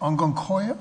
Unkun-Koya?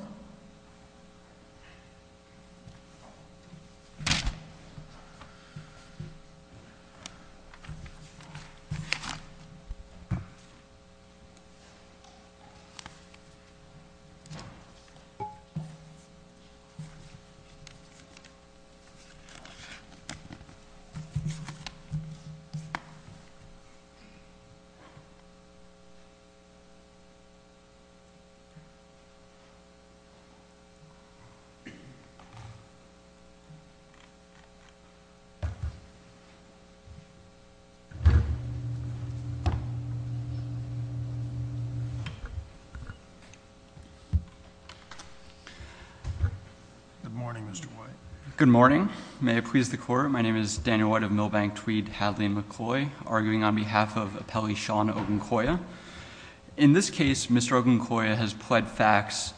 Good morning, Mr. White. Good morning. May it please the Court, my name is Daniel White of Milbank-Tweed-Hadley-McCloy, arguing on behalf of appellee Sean Unkun-Koya. In this case, Mr. Unkun-Koya has pled facts,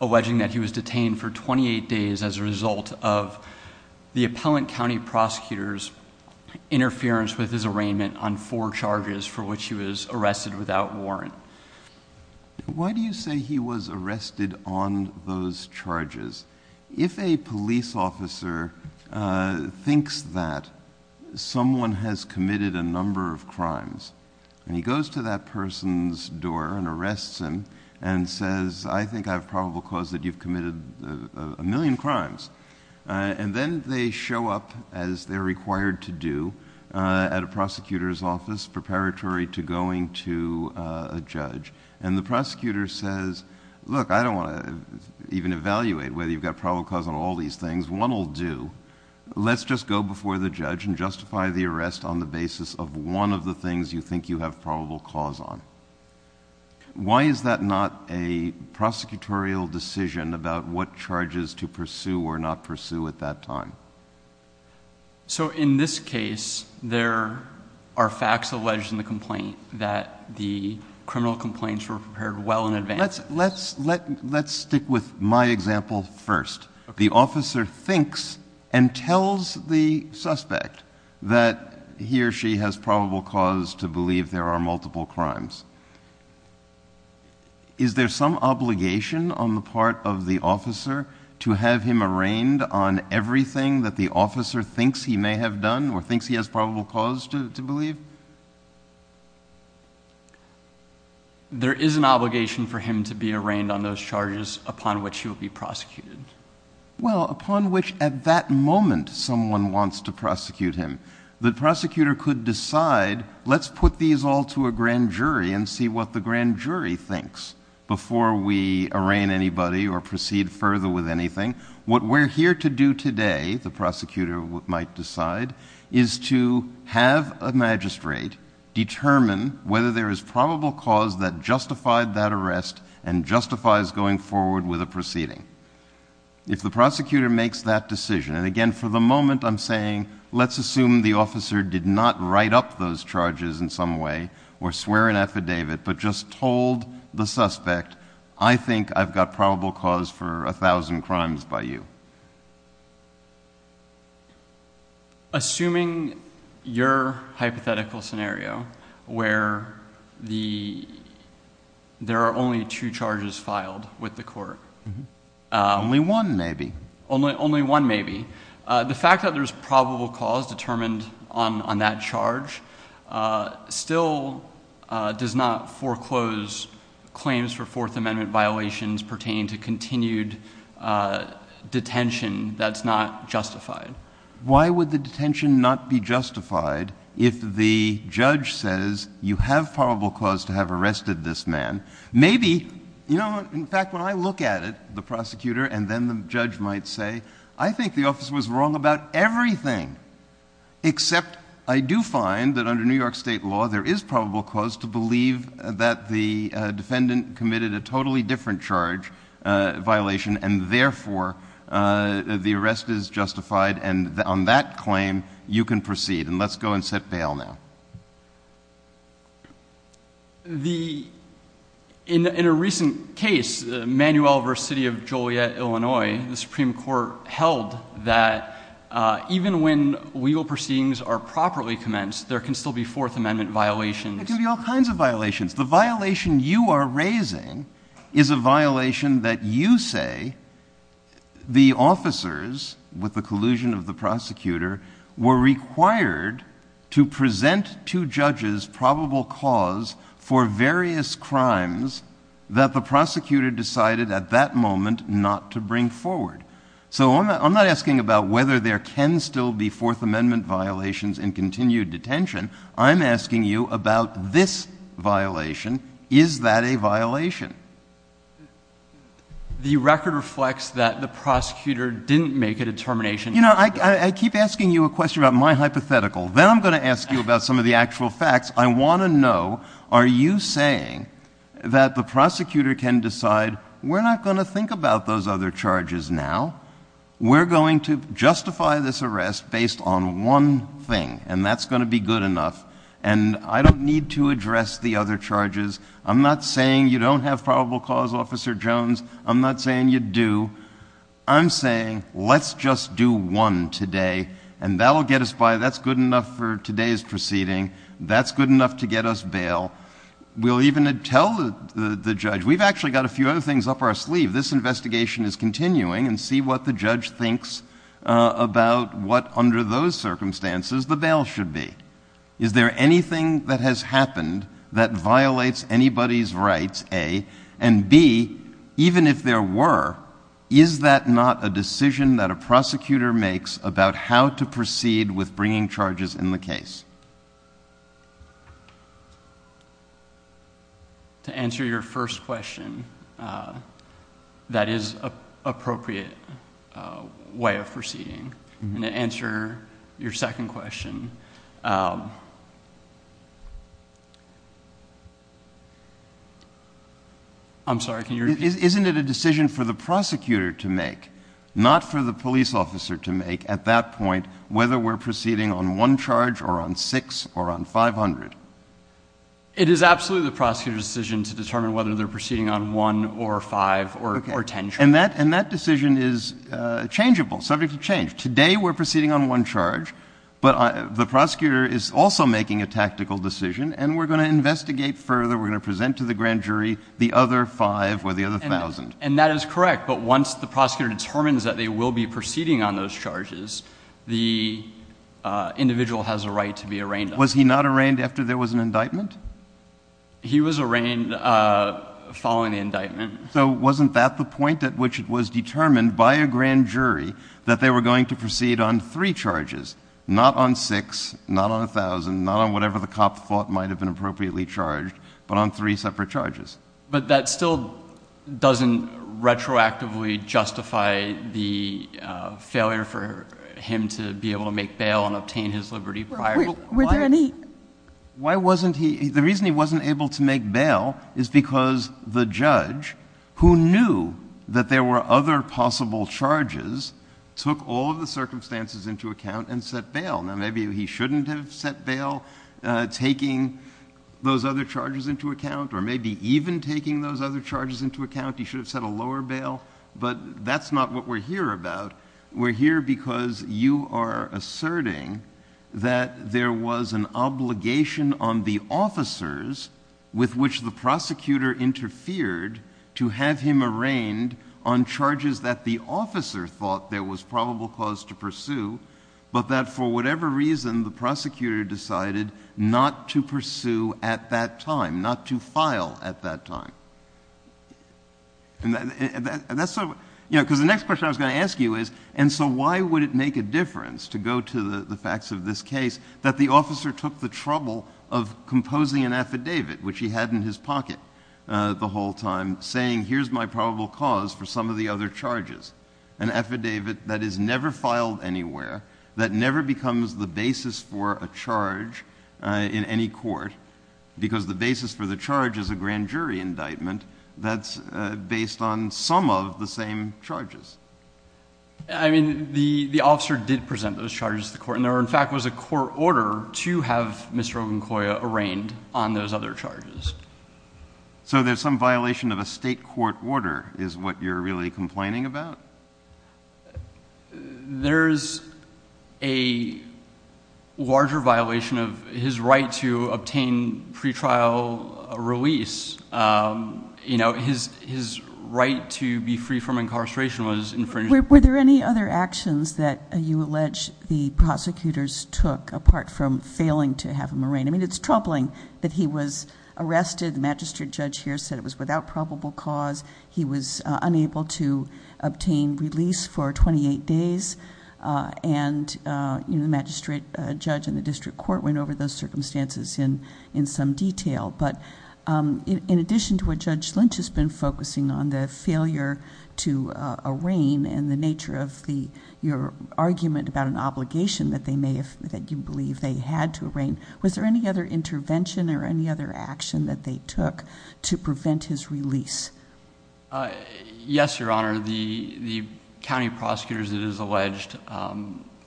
alleging that he was detained for 28 days as a result of the appellant county prosecutor's interference with his arraignment on four charges for which he was arrested without warrant. Why do you say he was arrested on those charges? If a police officer thinks that someone has committed a number of crimes and he goes to that person's door and arrests him and says, I think I have probable cause that you've committed a million crimes, and then they show up as they're required to do at a prosecutor's office preparatory to going to a judge, and the prosecutor says, look, I don't want to even evaluate whether you've got probable cause on all these things, one will do. Let's just go before the judge and justify the arrest on the basis of one of the things you think you have probable cause on. Why is that not a prosecutorial decision about what charges to pursue or not pursue at that time? So in this case, there are facts alleged in the complaint that the criminal complaints were prepared well in advance. Let's stick with my example first. The officer thinks and tells the suspect that he or she has probable cause to believe there are multiple crimes. Is there some obligation on the part of the officer to have him arraigned on everything that the officer thinks he may have done or thinks he has probable cause to believe? There is an obligation for him to be arraigned on those charges upon which he will be prosecuted. Well upon which at that moment someone wants to prosecute him. The prosecutor could decide, let's put these all to a grand jury and see what the grand jury thinks before we arraign anybody or proceed further with anything. What we're here to do today, the prosecutor might decide, is to have a magistrate determine whether there is probable cause that justified that arrest and justifies going forward with a proceeding. If the prosecutor makes that decision, and again for the moment I'm saying let's assume the officer did not write up those charges in some way or swear an affidavit but just told the suspect, I think I've got probable cause for a thousand crimes by you. Assuming your hypothetical scenario where there are only two charges filed with the court. Only one maybe. Only one maybe. The fact that there is probable cause determined on that charge still does not foreclose claims for Fourth Amendment violations pertaining to continued detention that's not justified. Why would the detention not be justified if the judge says you have probable cause to have arrested this man? Maybe, in fact when I look at it, the prosecutor and then the judge might say, I think the officer was wrong about everything, except I do find that under New York State law there is probable cause to believe that the defendant committed a totally different charge violation and therefore the arrest is justified and on that claim you can proceed and let's go and set bail now. In a recent case, Manuel v. City of Joliet, Illinois, the Supreme Court held that even when legal proceedings are properly commenced there can still be Fourth Amendment violations. There can be all kinds of violations. The violation you are raising is a violation that you say the officers, with the collusion of the prosecutor, were required to present to judges probable cause for various crimes that the prosecutor decided at that moment not to bring forward. So I'm not asking about whether there can still be Fourth Amendment violations in continued detention. I'm asking you about this violation. Is that a violation? The record reflects that the prosecutor didn't make a determination. You know, I keep asking you a question about my hypothetical. Then I'm going to ask you about some of the actual facts. I want to know, are you saying that the prosecutor can decide, we're not going to think about those other charges now. We're going to justify this arrest based on one thing and that's going to be good enough and I don't need to address the other charges. I'm not saying you don't have probable cause, Officer Jones. I'm not saying you do. I'm saying let's just do one today and that will get us by. That's good enough for today's proceeding. That's good enough to get us bail. We'll even tell the judge, we've actually got a few other things up our sleeve. This investigation is continuing and see what the judge thinks about what under those circumstances the bail should be. Is there anything that has happened that violates anybody's rights, A, and B, even if there were, is that not a decision that a prosecutor makes about how to proceed with bringing charges in the case? To answer your first question, that is an appropriate way of proceeding. To answer your second question, I'm sorry, can you repeat? Isn't it a decision for the prosecutor to make, not for the police officer to make, at that point, whether we're proceeding on one charge or on six or on 500? It is absolutely the prosecutor's decision to determine whether they're proceeding on one or five or ten charges. And that decision is changeable, subject to change. Today we're proceeding on one charge, but the prosecutor is also making a tactical decision and we're going to investigate further, we're going to present to the grand jury the other five or the other thousand. And that is correct, but once the prosecutor determines that they will be proceeding on those charges, the individual has a right to be arraigned. Was he not arraigned after there was an indictment? He was arraigned following the indictment. So wasn't that the point at which it was determined by a grand jury that they were going to proceed on three charges, not on six, not on a thousand, not on whatever the cop thought might have been appropriately charged, but on three separate charges? But that still doesn't retroactively justify the failure for him to be able to make bail and obtain his liberty prior to that. Why wasn't he, the reason he wasn't able to make bail is because the judge, who knew that there were other possible charges, took all of the circumstances into account and set bail. Now maybe he shouldn't have set bail taking those other charges into account, or maybe even taking those other charges into account, he should have set a lower bail, but that's not what we're here about. We're here because you are asserting that there was an obligation on the officers with which the prosecutor interfered to have him arraigned on charges that the officer thought there was probable cause to pursue, but that for whatever reason, the prosecutor decided not to pursue at that time, not to file at that time. And that's so, you know, because the next question I was going to ask you is, and so why would it make a difference to go to the facts of this case that the officer took the trouble of composing an affidavit, which he had in his pocket the whole time, saying here's my probable cause for some of the other charges, an affidavit that is never filed anywhere, that never becomes the basis for a charge in any court, because the basis for the charge is a grand jury indictment that's based on some of the same charges. I mean, the officer did present those charges to the court, and there in fact was a court order to have Mr. Ogunkoya arraigned on those other charges. So there's some violation of a state court order is what you're really complaining about? There's a larger violation of his right to obtain pretrial release. You know, his right to be free from incarceration was infringed. Were there any other actions that you allege the prosecutors took apart from failing to have him arraigned? I mean, it's troubling that he was arrested, the magistrate judge here said it was without probable cause. He was unable to obtain release for 28 days, and the magistrate judge in the district court went over those circumstances in some detail. But in addition to what Judge Lynch has been focusing on, the failure to arraign and the nature of your argument about an obligation that you believe they had to arraign, was there any other intervention or any other action that they took to prevent his release? Yes, Your Honor, the county prosecutors, it is alleged,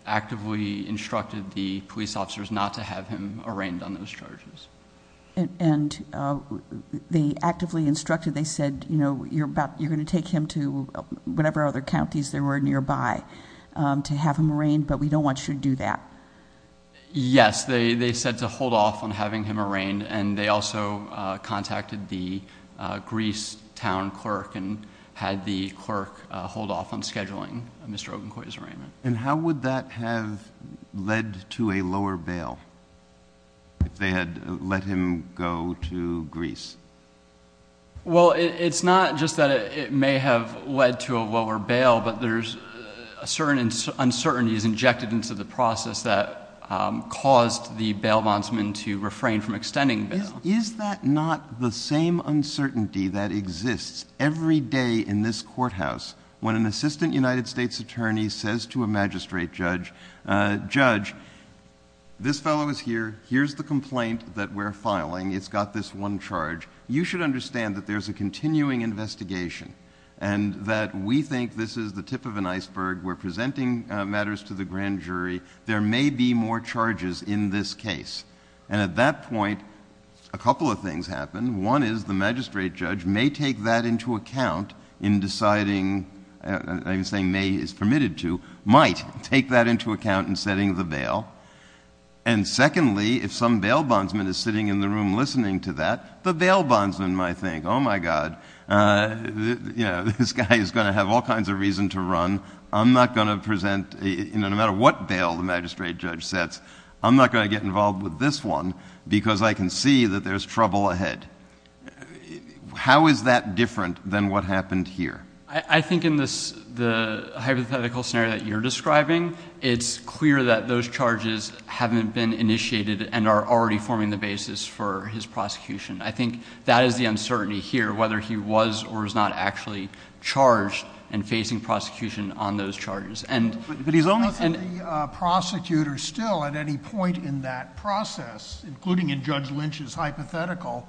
actively instructed the police officers not to have him arraigned on those charges. And they actively instructed, they said, you know, you're going to take him to whatever other counties there were nearby to have him arraigned, but we don't want you to do that. Yes, they said to hold off on having him arraigned, and they also contacted the Greece town clerk and had the clerk hold off on scheduling Mr. Ogunkoy's arraignment. And how would that have led to a lower bail, if they had let him go to Greece? Well, it's not just that it may have led to a lower bail, but there's a certain uncertainty that's injected into the process that caused the bail bondsman to refrain from extending bail. Is that not the same uncertainty that exists every day in this courthouse, when an assistant United States attorney says to a magistrate judge, judge, this fellow is here, here's the complaint that we're filing, it's got this one charge, you should understand that there's a continuing investigation, and that we think this is the tip of an iceberg, we're to the grand jury, there may be more charges in this case. And at that point, a couple of things happen. One is the magistrate judge may take that into account in deciding, I'm saying may is permitted to, might take that into account in setting the bail. And secondly, if some bail bondsman is sitting in the room listening to that, the bail bondsman might think, oh my God, this guy is going to have all kinds of reason to run, I'm not going to present, no matter what bail the magistrate judge sets, I'm not going to get involved with this one, because I can see that there's trouble ahead. How is that different than what happened here? I think in the hypothetical scenario that you're describing, it's clear that those charges haven't been initiated and are already forming the basis for his prosecution. I think that is the uncertainty here, whether he was or is not actually charged and facing prosecution on those charges. But he's only- I don't think the prosecutor still at any point in that process, including in Judge Lynch's hypothetical,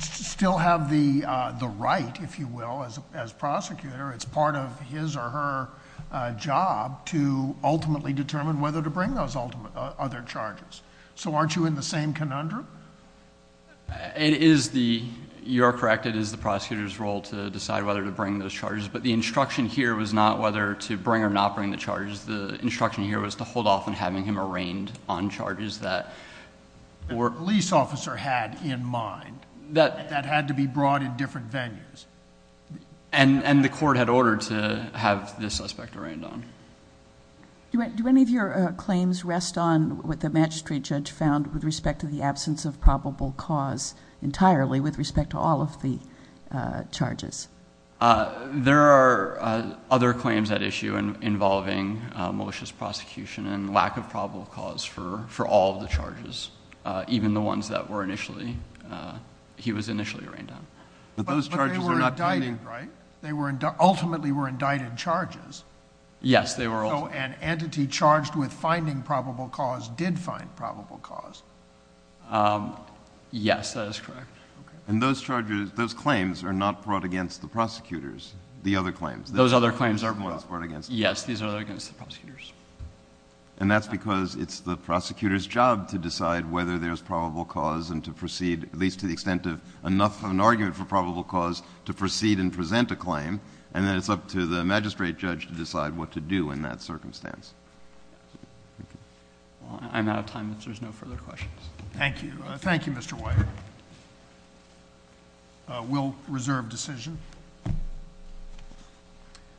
still have the right, if you will, as prosecutor, it's part of his or her job to ultimately determine whether to bring those other charges. So aren't you in the same conundrum? It is the... you are correct, it is the prosecutor's role to decide whether to bring those charges. But the instruction here was not whether to bring or not bring the charges. The instruction here was to hold off on having him arraigned on charges that were... The police officer had in mind that had to be brought in different venues. The court had ordered to have the suspect arraigned on. Do any of your claims rest on what the magistrate judge found with respect to the absence of probable cause entirely with respect to all of the charges? There are other claims at issue involving malicious prosecution and lack of probable cause for all of the charges, even the ones that were initially... he was initially arraigned on. But those charges are not being... But they were indicted, right? They were... ultimately were indicted charges. Yes. They were... So an entity charged with finding probable cause did find probable cause? Yes, that is correct. And those charges, those claims are not brought against the prosecutors, the other claims? Those other claims are... Those are not brought against... Yes, these are against the prosecutors. And that's because it's the prosecutor's job to decide whether there's probable cause and to proceed, at least to the extent of enough of an argument for probable cause to proceed and present a claim, and then it's up to the magistrate judge to decide what to do in that circumstance. Thank you. Well, I'm out of time if there's no further questions. Thank you. Thank you, Mr. White. We'll reserve decision.